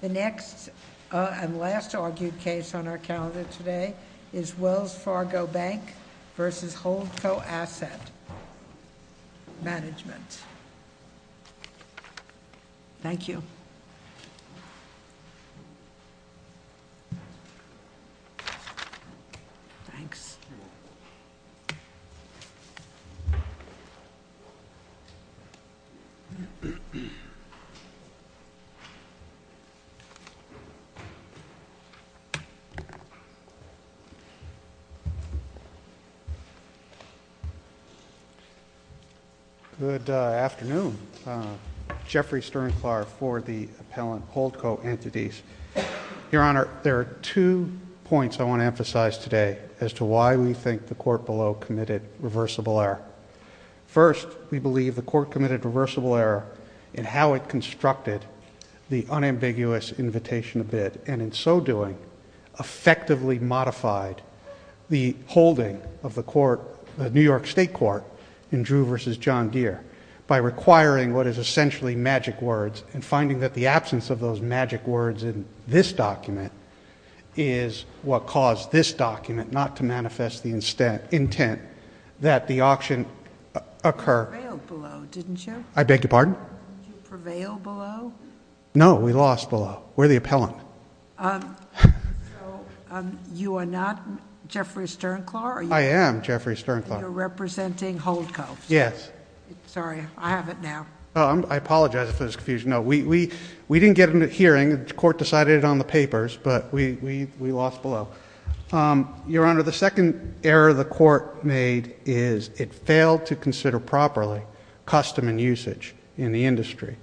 The next and last argued case on our calendar today is Wells Fargo Bank v. Holdco Asset Management. Thank you. Thanks. Good afternoon, Jeffrey Sternklar for the appellant Holdco Entities. Your Honor, there are two points I want to emphasize today as to why we think the court below committed reversible error. First, we believe the court committed reversible error in how it constructed the unambiguous invitation to bid, and in so doing, effectively modified the holding of the New York State Court in Drew v. John Deere by requiring what is essentially magic words and finding that the absence of those magic words in this document is what caused this document not to manifest the intent that the auction occur. You prevailed below, didn't you? I beg your pardon? Did you prevail below? No, we lost below. We're the appellant. So, you are not Jeffrey Sternklar? I am Jeffrey Sternklar. You're representing Holdco? Yes. Sorry, I have it now. I apologize for this confusion. No, we didn't get a hearing. The court decided it on the papers, but we lost below. Your Honor, the second error the court made is it failed to consider properly custom and usage in the industry,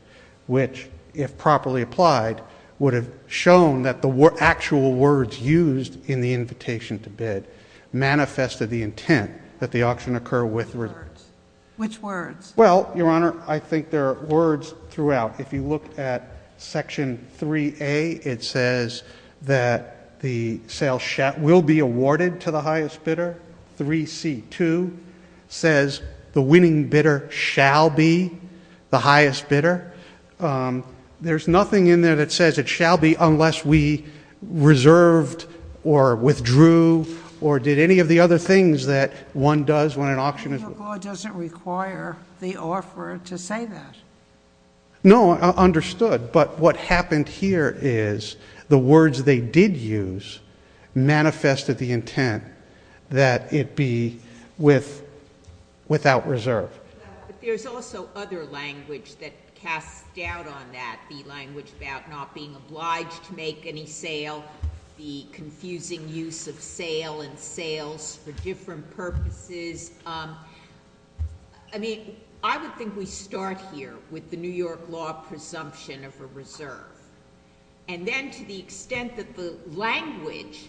which, if properly applied, would have shown that the actual words used in the invitation to bid manifested the intent that the auction occur with reverse. Which words? Well, Your Honor, I think there are words throughout. If you look at Section 3A, it says that the sale will be awarded to the highest bidder. 3C2 says the winning bidder shall be the highest bidder. There's nothing in there that says it shall be unless we reserved or withdrew or did any of the other things that one does when an auction is— But your court doesn't require the offeror to say that. No, understood. But what happened here is the words they did use manifested the intent that it be without reserve. But there's also other language that casts doubt on that, the language about not being obliged to make any sale, the confusing use of sale and sales for different purposes. I mean, I would think we start here with the New York law presumption of a reserve. And then to the extent that the language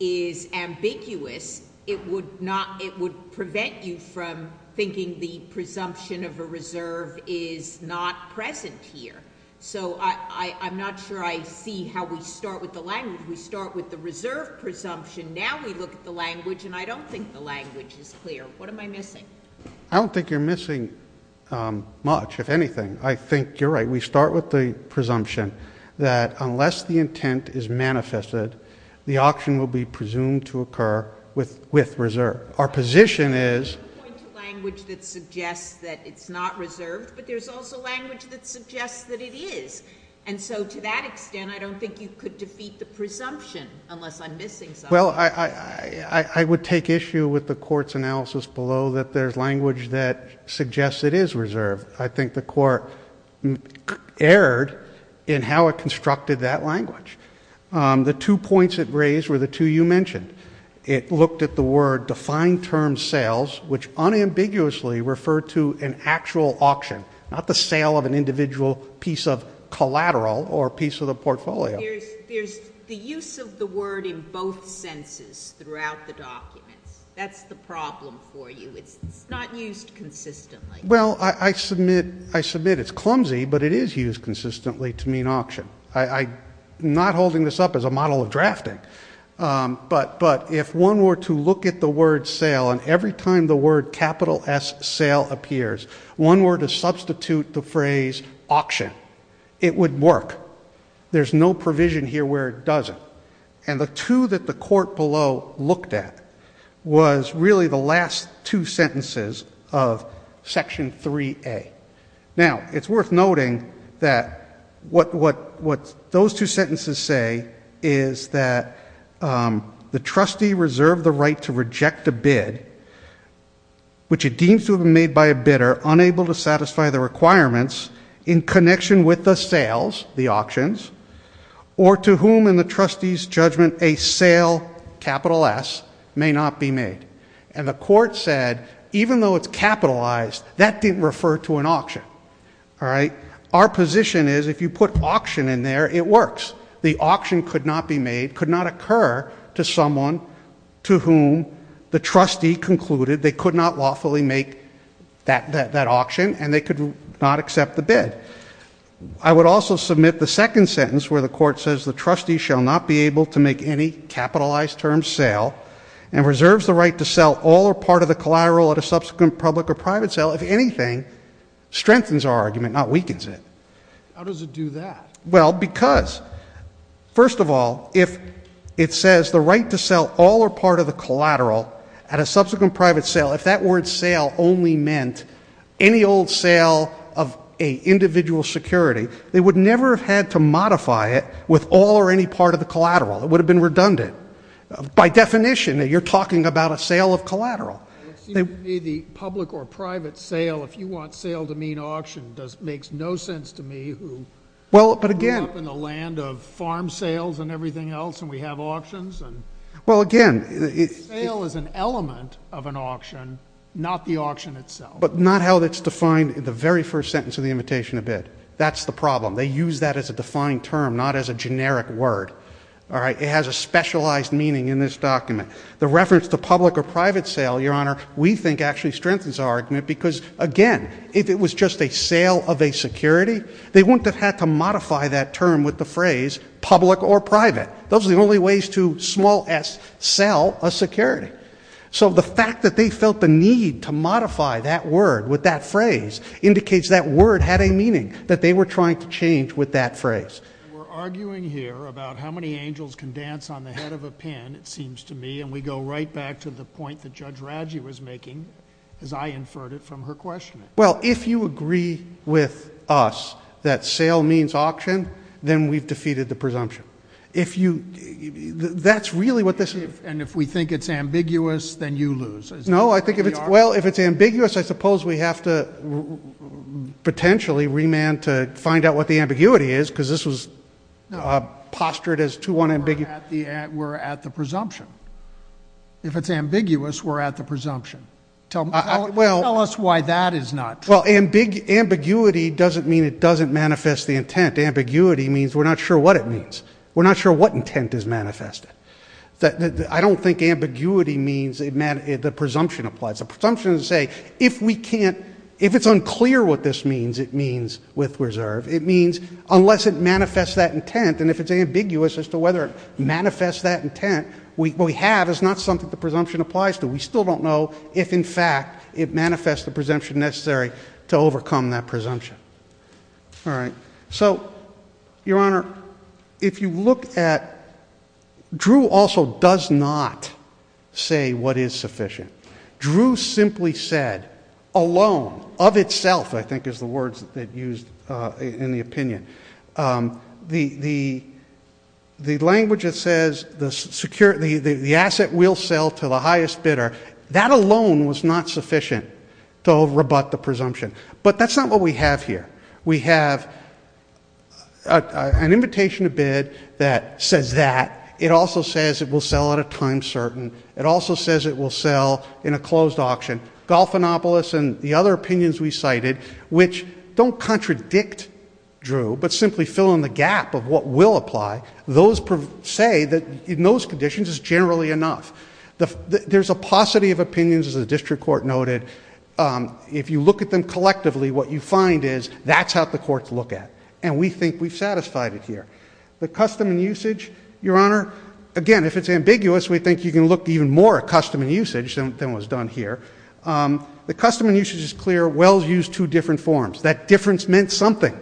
is ambiguous, it would prevent you from thinking the presumption of a reserve is not present here. So I'm not sure I see how we start with the language. We start with the reserve presumption. Now we look at the language, and I don't think the language is clear. What am I missing? I don't think you're missing much, if anything. I think you're right. We start with the presumption that unless the intent is manifested, the auction will be presumed to occur with reserve. Our position is— I'm going to point to language that suggests that it's not reserved, but there's also language that suggests that it is. And so to that extent, I don't think you could defeat the presumption unless I'm missing something. Well, I would take issue with the Court's analysis below that there's language that suggests it is reserved. I think the Court erred in how it constructed that language. The two points it raised were the two you mentioned. It looked at the word defined term sales, which unambiguously referred to an actual auction, not the sale of an individual piece of collateral or piece of the portfolio. There's the use of the word in both senses throughout the documents. That's the problem for you. It's not used consistently. Well, I submit it's clumsy, but it is used consistently to mean auction. I'm not holding this up as a model of drafting, but if one were to look at the word sale and every time the word capital S, sale, appears, one were to substitute the phrase auction, it would work. There's no provision here where it doesn't. And the two that the Court below looked at was really the last two sentences of Section 3A. Now, it's worth noting that what those two sentences say is that the trustee reserved the right to reject a bid, which it deems to have been made by a bidder unable to satisfy the requirements in connection with the sales, the auctions, or to whom in the trustee's judgment a sale, capital S, may not be made. And the Court said even though it's capitalized, that didn't refer to an auction. All right? Our position is if you put auction in there, it works. The auction could not be made, could not occur to someone to whom the trustee concluded they could not lawfully make that auction and they could not accept the bid. I would also submit the second sentence where the Court says the trustee shall not be able to make any capitalized term sale and reserves the right to sell all or part of the collateral at a subsequent public or private sale, if anything, strengthens our argument, not weakens it. How does it do that? Well, because first of all, if it says the right to sell all or part of the collateral at a subsequent private sale, if that word sale only meant any old sale of an individual's security, they would never have had to modify it with all or any part of the collateral. It would have been redundant. By definition, you're talking about a sale of collateral. It seems to me the public or private sale, if you want sale to mean auction, makes no sense to me who grew up in the land of farm sales and everything else and we have auctions. Well, again. Sale is an element of an auction, not the auction itself. But not how it's defined in the very first sentence of the imitation of bid. That's the problem. They use that as a defined term, not as a generic word. All right? It has a specialized meaning in this document. The reference to public or private sale, Your Honor, we think actually strengthens our argument because, again, if it was just a sale of a security, they wouldn't have had to modify that term with the phrase public or private. Those are the only ways to, small s, sell a security. So the fact that they felt the need to modify that word with that phrase indicates that word had a meaning, that they were trying to change with that phrase. We're arguing here about how many angels can dance on the head of a pin, it seems to me, and we go right back to the point that Judge Radji was making as I inferred it from her question. Well, if you agree with us that sale means auction, then we've defeated the presumption. If you, that's really what this is. And if we think it's ambiguous, then you lose. No, I think if it's, well, if it's ambiguous, I suppose we have to potentially remand to find out what the ambiguity is because this was postured as too unambiguous. We're at the presumption. If it's ambiguous, we're at the presumption. Tell us why that is not true. Well, ambiguity doesn't mean it doesn't manifest the intent. Ambiguity means we're not sure what it means. We're not sure what intent is manifested. I don't think ambiguity means the presumption applies. The presumption is to say if we can't, if it's unclear what this means, it means with reserve. It means unless it manifests that intent, and if it's ambiguous as to whether it manifests that intent, what we have is not something the presumption applies to. We still don't know if, in fact, it manifests the presumption necessary to overcome that presumption. All right. So, Your Honor, if you look at, Drew also does not say what is sufficient. Drew simply said, alone, of itself, I think is the word that's used in the opinion, the language that says the asset will sell to the highest bidder, that alone was not sufficient to rebut the presumption. But that's not what we have here. We have an invitation to bid that says that. It also says it will sell at a time certain. It also says it will sell in a closed auction. Golfinopolis and the other opinions we cited, which don't contradict Drew, but simply fill in the gap of what will apply, those say that in those conditions it's generally enough. There's a paucity of opinions, as the district court noted. If you look at them collectively, what you find is that's how the courts look at it. And we think we've satisfied it here. The custom and usage, Your Honor, again, if it's ambiguous, we think you can look even more at custom and usage than was done here. The custom and usage is clear. Wells used two different forms. That difference meant something.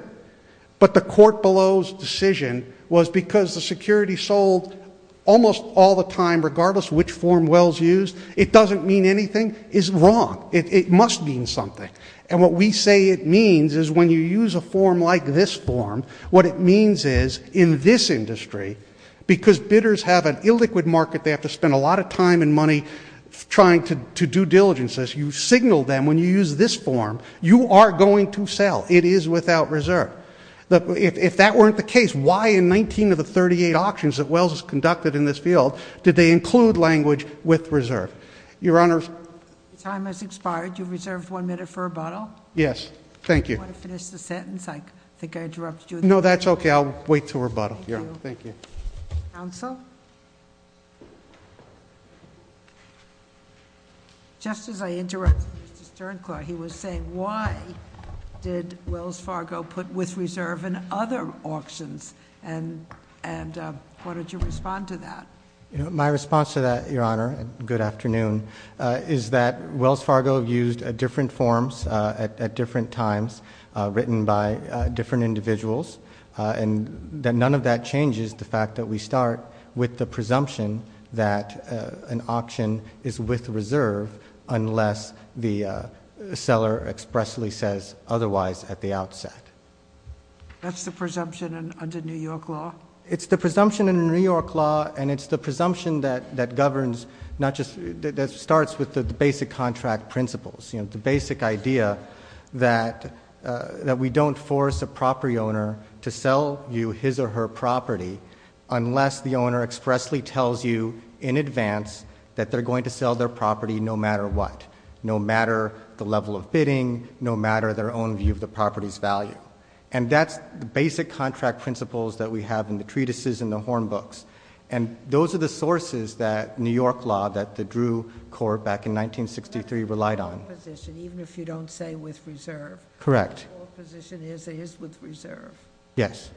But the court below's decision was because the security sold almost all the time, regardless which form Wells used, it doesn't mean anything is wrong. It must mean something. And what we say it means is when you use a form like this form, what it means is in this industry, because bidders have an illiquid market, they have to spend a lot of time and money trying to do diligence. You signal them when you use this form, you are going to sell. It is without reserve. If that weren't the case, why in 19 of the 38 auctions that Wells has conducted in this field did they include language with reserve? Your Honor? Your time has expired. You reserved one minute for rebuttal. Yes. Thank you. Do you want to finish the sentence? I think I interrupted you. No, that's okay. I'll wait to rebuttal. Thank you. Counsel? Just as I interrupted Mr. Sternclaw, he was saying why did Wells Fargo put with reserve in other auctions? And what did you respond to that? My response to that, Your Honor, and good afternoon, is that Wells Fargo used different forms at different times written by different individuals, and that none of that changes the fact that we start with the presumption that an auction is with reserve unless the seller expressly says otherwise at the outset. That's the presumption under New York law? It's the presumption in New York law, and it's the presumption that governs, that starts with the basic contract principles. The basic idea that we don't force a property owner to sell you his or her property unless the owner expressly tells you in advance that they're going to sell their property no matter what. No matter the level of bidding, no matter their own view of the property's value. And that's the basic contract principles that we have in the treatises and the horn books. And those are the sources that New York law, that the Drew court back in 1963 relied on. The position, even if you don't say with reserve. Correct. The position is it is with reserve. Yes.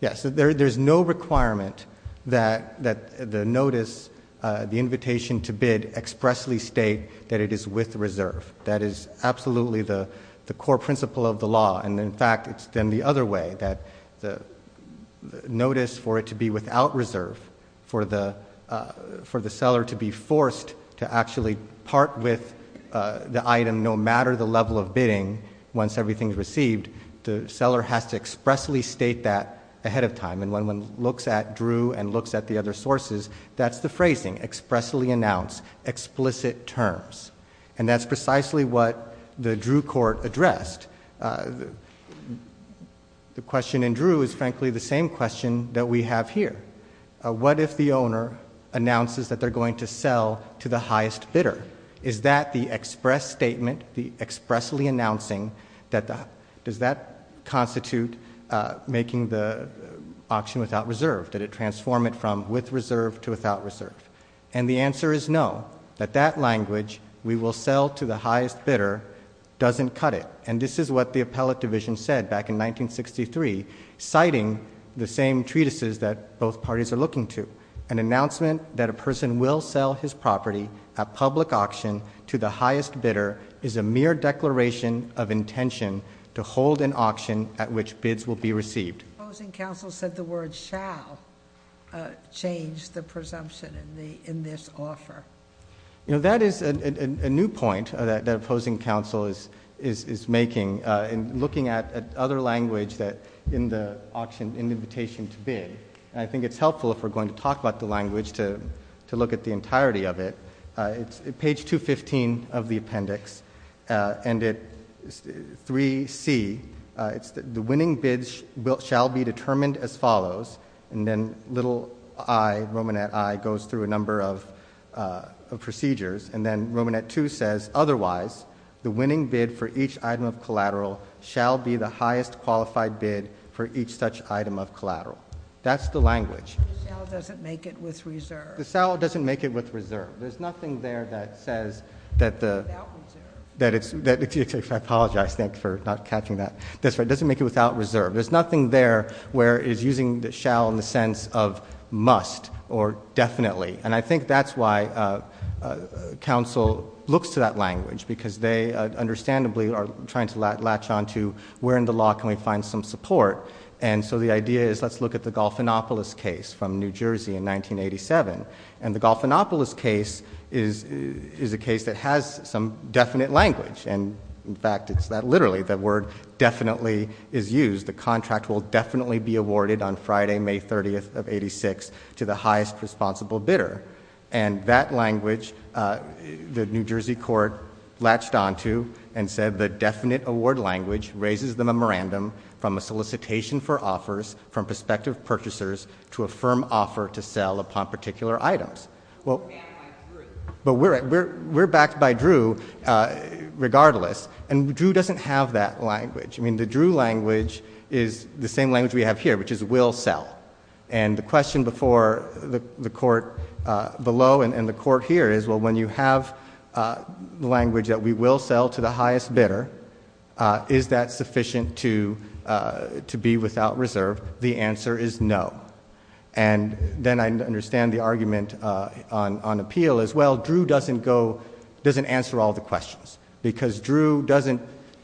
Yes. There's no requirement that the notice, the invitation to bid, expressly state that it is with reserve. That is absolutely the core principle of the law. And, in fact, it's then the other way, that the notice for it to be without reserve, for the seller to be forced to actually part with the item no matter the level of bidding once everything is received, the seller has to expressly state that ahead of time. And when one looks at Drew and looks at the other sources, that's the phrasing, expressly announce, explicit terms. And that's precisely what the Drew court addressed. The question in Drew is, frankly, the same question that we have here. What if the owner announces that they're going to sell to the highest bidder? Is that the express statement, the expressly announcing, does that constitute making the auction without reserve? Did it transform it from with reserve to without reserve? And the answer is no, that that language, we will sell to the highest bidder, doesn't cut it. And this is what the appellate division said back in 1963, citing the same treatises that both parties are looking to. An announcement that a person will sell his property at public auction to the highest bidder is a mere declaration of intention to hold an auction at which bids will be received. Opposing counsel said the word shall change the presumption in this offer. You know, that is a new point that opposing counsel is making in looking at other language in the invitation to bid. And I think it's helpful if we're going to talk about the language to look at the entirety of it. It's page 215 of the appendix. And at 3C, it's the winning bid shall be determined as follows. And then little i, Romanet i, goes through a number of procedures. And then Romanet 2 says, otherwise, the winning bid for each item of collateral shall be the highest qualified bid for each such item of collateral. That's the language. The shall doesn't make it with reserve. The shall doesn't make it with reserve. There's nothing there that says that the... Without reserve. I apologize. Thank you for not catching that. That's right. It doesn't make it without reserve. There's nothing there where it's using the shall in the sense of must or definitely. And I think that's why counsel looks to that language because they understandably are trying to latch on to where in the law can we find some support. And so the idea is let's look at the Golfinopolis case from New Jersey in 1987. And the Golfinopolis case is a case that has some definite language. And, in fact, it's that literally, the word definitely is used. The contract will definitely be awarded on Friday, May 30th of 86 to the highest responsible bidder. And that language, the New Jersey court latched on to and said the definite award language raises the memorandum from a solicitation for offers from prospective purchasers to a firm offer to sell upon particular items. But we're backed by Drew regardless. And Drew doesn't have that language. I mean, the Drew language is the same language we have here, which is will sell. And the question before the court below and the court here is, well, when you have language that we will sell to the highest bidder, is that sufficient to be without reserve? The answer is no. And then I understand the argument on appeal as well. Drew doesn't go, doesn't answer all the questions. Because Drew doesn't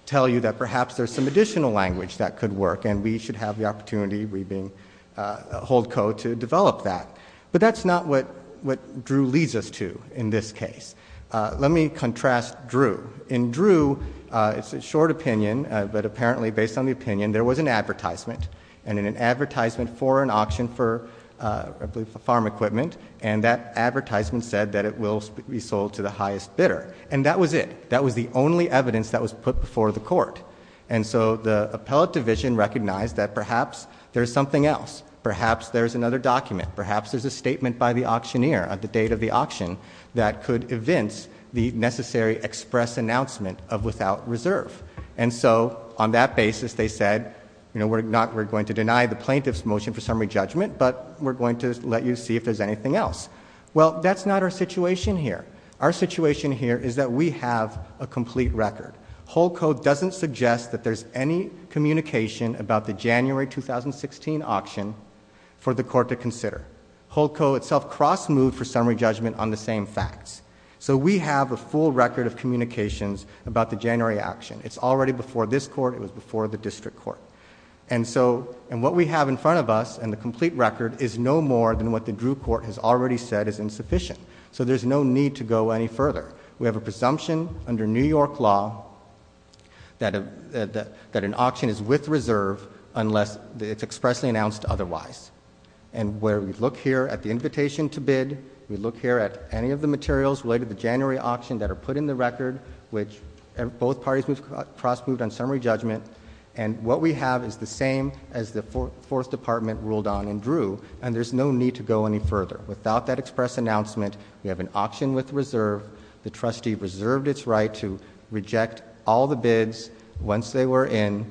tell you that perhaps there's some additional language that could work, and we should have the opportunity, we being HoldCode, to develop that. But that's not what Drew leads us to in this case. Let me contrast Drew. In Drew, it's a short opinion, but apparently based on the opinion, there was an advertisement. And in an advertisement for an auction for, I believe, farm equipment, and that advertisement said that it will be sold to the highest bidder. And that was it. That was the only evidence that was put before the court. And so the appellate division recognized that perhaps there's something else. Perhaps there's another document. Perhaps there's a statement by the auctioneer at the date of the auction that could evince the necessary express announcement of without reserve. And so on that basis, they said, you know, we're going to deny the plaintiff's motion for summary judgment, but we're going to let you see if there's anything else. Well, that's not our situation here. Our situation here is that we have a complete record. HoldCode doesn't suggest that there's any communication about the January 2016 auction for the court to consider. HoldCode itself cross-moved for summary judgment on the same facts. So we have a full record of communications about the January auction. It's already before this court. It was before the district court. And so, and what we have in front of us, and the complete record, is no more than what the Drew court has already said is insufficient. So there's no need to go any further. We have a presumption under New York law that an auction is with reserve unless it's expressly announced otherwise. And where we look here at the invitation to bid, we look here at any of the materials related to the January auction that are put in the record, which both parties cross-moved on summary judgment. And what we have is the same as the fourth department ruled on in Drew, and there's no need to go any further. Without that express announcement, we have an auction with reserve. The trustee reserved its right to reject all the bids once they were in,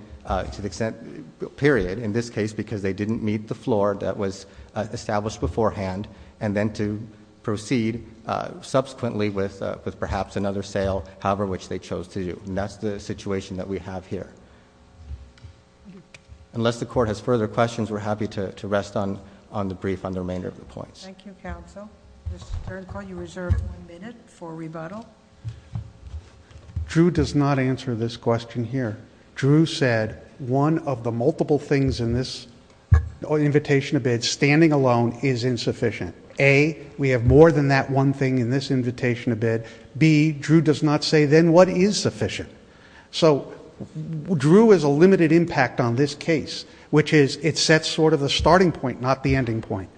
to the extent, period, in this case because they didn't meet the floor that was established beforehand, and then to proceed subsequently with perhaps another sale, however which they chose to do. And that's the situation that we have here. Unless the court has further questions, we're happy to rest on the brief on the remainder of the points. Thank you, counsel. Mr. Turkle, you reserve one minute for rebuttal. Drew does not answer this question here. Drew said one of the multiple things in this invitation to bid, standing alone, is insufficient. A, we have more than that one thing in this invitation to bid. B, Drew does not say then what is sufficient. So Drew has a limited impact on this case, which is it sets sort of the starting point, not the ending point.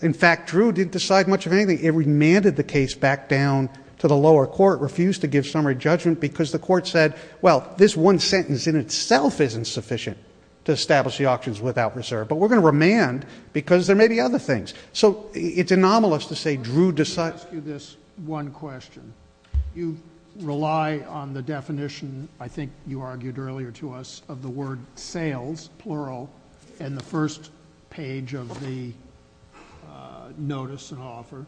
In fact, Drew didn't decide much of anything. It remanded the case back down to the lower court, refused to give summary judgment because the court said, well, this one sentence in itself isn't sufficient to establish the auctions without reserve, but we're going to remand because there may be other things. So it's anomalous to say Drew decides- Let me ask you this one question. You rely on the definition, I think you argued earlier to us, of the word sales, plural, in the first page of the notice and offer.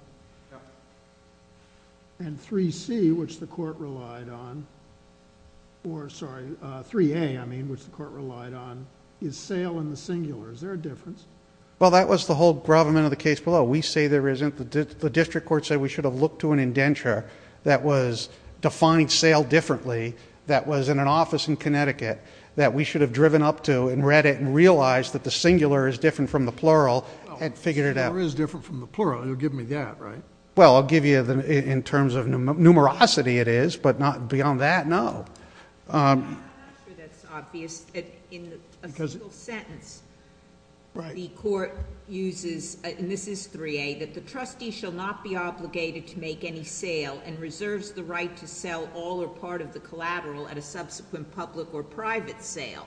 And 3C, which the court relied on, or sorry, 3A, I mean, which the court relied on, is sale in the singular. Is there a difference? Well, that was the whole gravamen of the case below. We say there isn't. The district court said we should have looked to an indenture that was defined sale differently, that was in an office in Connecticut, that we should have driven up to and read it and realized that the singular is different from the plural and figured it out. The singular is different from the plural. You'll give me that, right? Well, I'll give you in terms of numerosity it is, but beyond that, no. I'm not sure that's obvious. In a single sentence, the court uses, and this is 3A, that the trustee shall not be obligated to make any sale and reserves the right to sell all or part of the collateral at a subsequent public or private sale.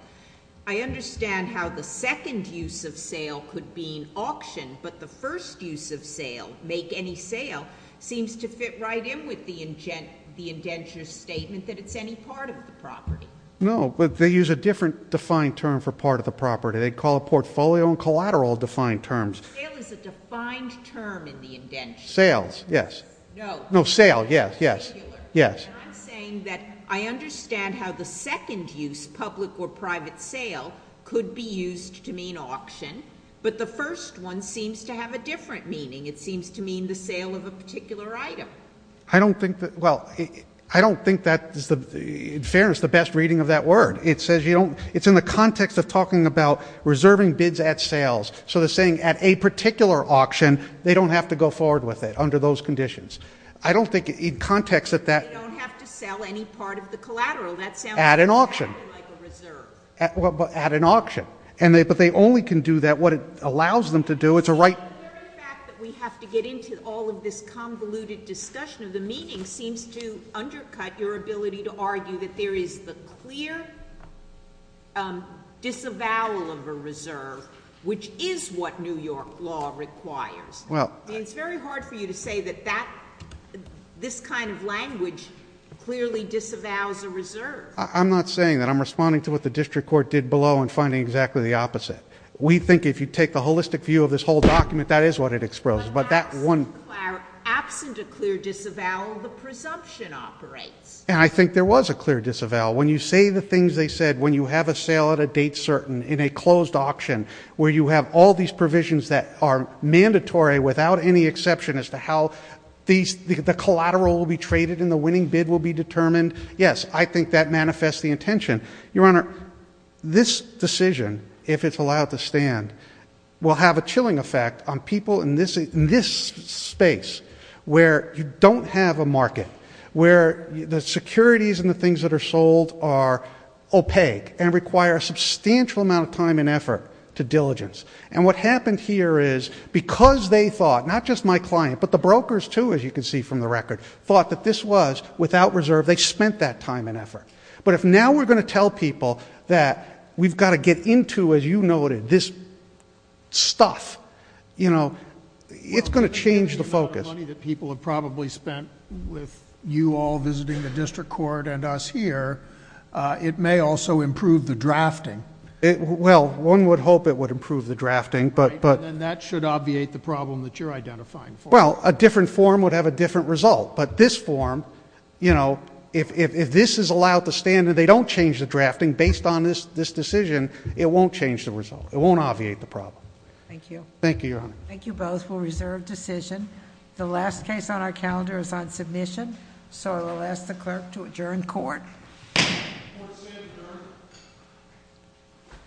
I understand how the second use of sale could be an auction, but the first use of sale, make any sale, seems to fit right in with the indenture statement that it's any part of the property. No, but they use a different defined term for part of the property. They call it portfolio and collateral defined terms. Sale is a defined term in the indenture. Sales, yes. No. No, sale, yes, yes. I'm saying that I understand how the second use, public or private sale, could be used to mean auction, but the first one seems to have a different meaning. It seems to mean the sale of a particular item. I don't think that, well, I don't think that is, in fairness, the best reading of that word. It says you don't, it's in the context of talking about reserving bids at sales, so they're saying at a particular auction, they don't have to go forward with it under those conditions. I don't think in context that that. They don't have to sell any part of the collateral. That sounds exactly like a reserve. At an auction. At an auction. But they only can do that, what it allows them to do, it's a right. The very fact that we have to get into all of this convoluted discussion of the meeting seems to undercut your ability to argue that there is the clear disavowal of a reserve, which is what New York law requires. It's very hard for you to say that this kind of language clearly disavows a reserve. I'm not saying that. I'm responding to what the district court did below and finding exactly the opposite. We think if you take the holistic view of this whole document, that is what it exposes. But that one. Absent a clear disavowal, the presumption operates. And I think there was a clear disavowal. When you say the things they said, when you have a sale at a date certain in a closed auction, where you have all these provisions that are mandatory without any exception as to how the collateral will be traded and the winning bid will be determined, yes, I think that manifests the intention. Your Honor, this decision, if it's allowed to stand, will have a chilling effect on people in this space where you don't have a market, where the securities and the things that are sold are opaque and require a substantial amount of time and effort to diligence. And what happened here is because they thought, not just my client, but the brokers too, as you can see from the record, thought that this was without reserve, they spent that time and effort. But if now we're going to tell people that we've got to get into, as you noted, this stuff, you know, it's going to change the focus. Well, given the amount of money that people have probably spent with you all visiting the district court and us here, it may also improve the drafting. Well, one would hope it would improve the drafting, but... Right, and then that should obviate the problem that you're identifying for. Well, a different form would have a different result. But this form, you know, if this is allowed to stand and they don't change the drafting based on this decision, it won't change the result. It won't obviate the problem. Thank you. Thank you, Your Honor. Thank you both for a reserved decision. The last case on our calendar is on submission, so I will ask the clerk to adjourn court. Court is adjourned.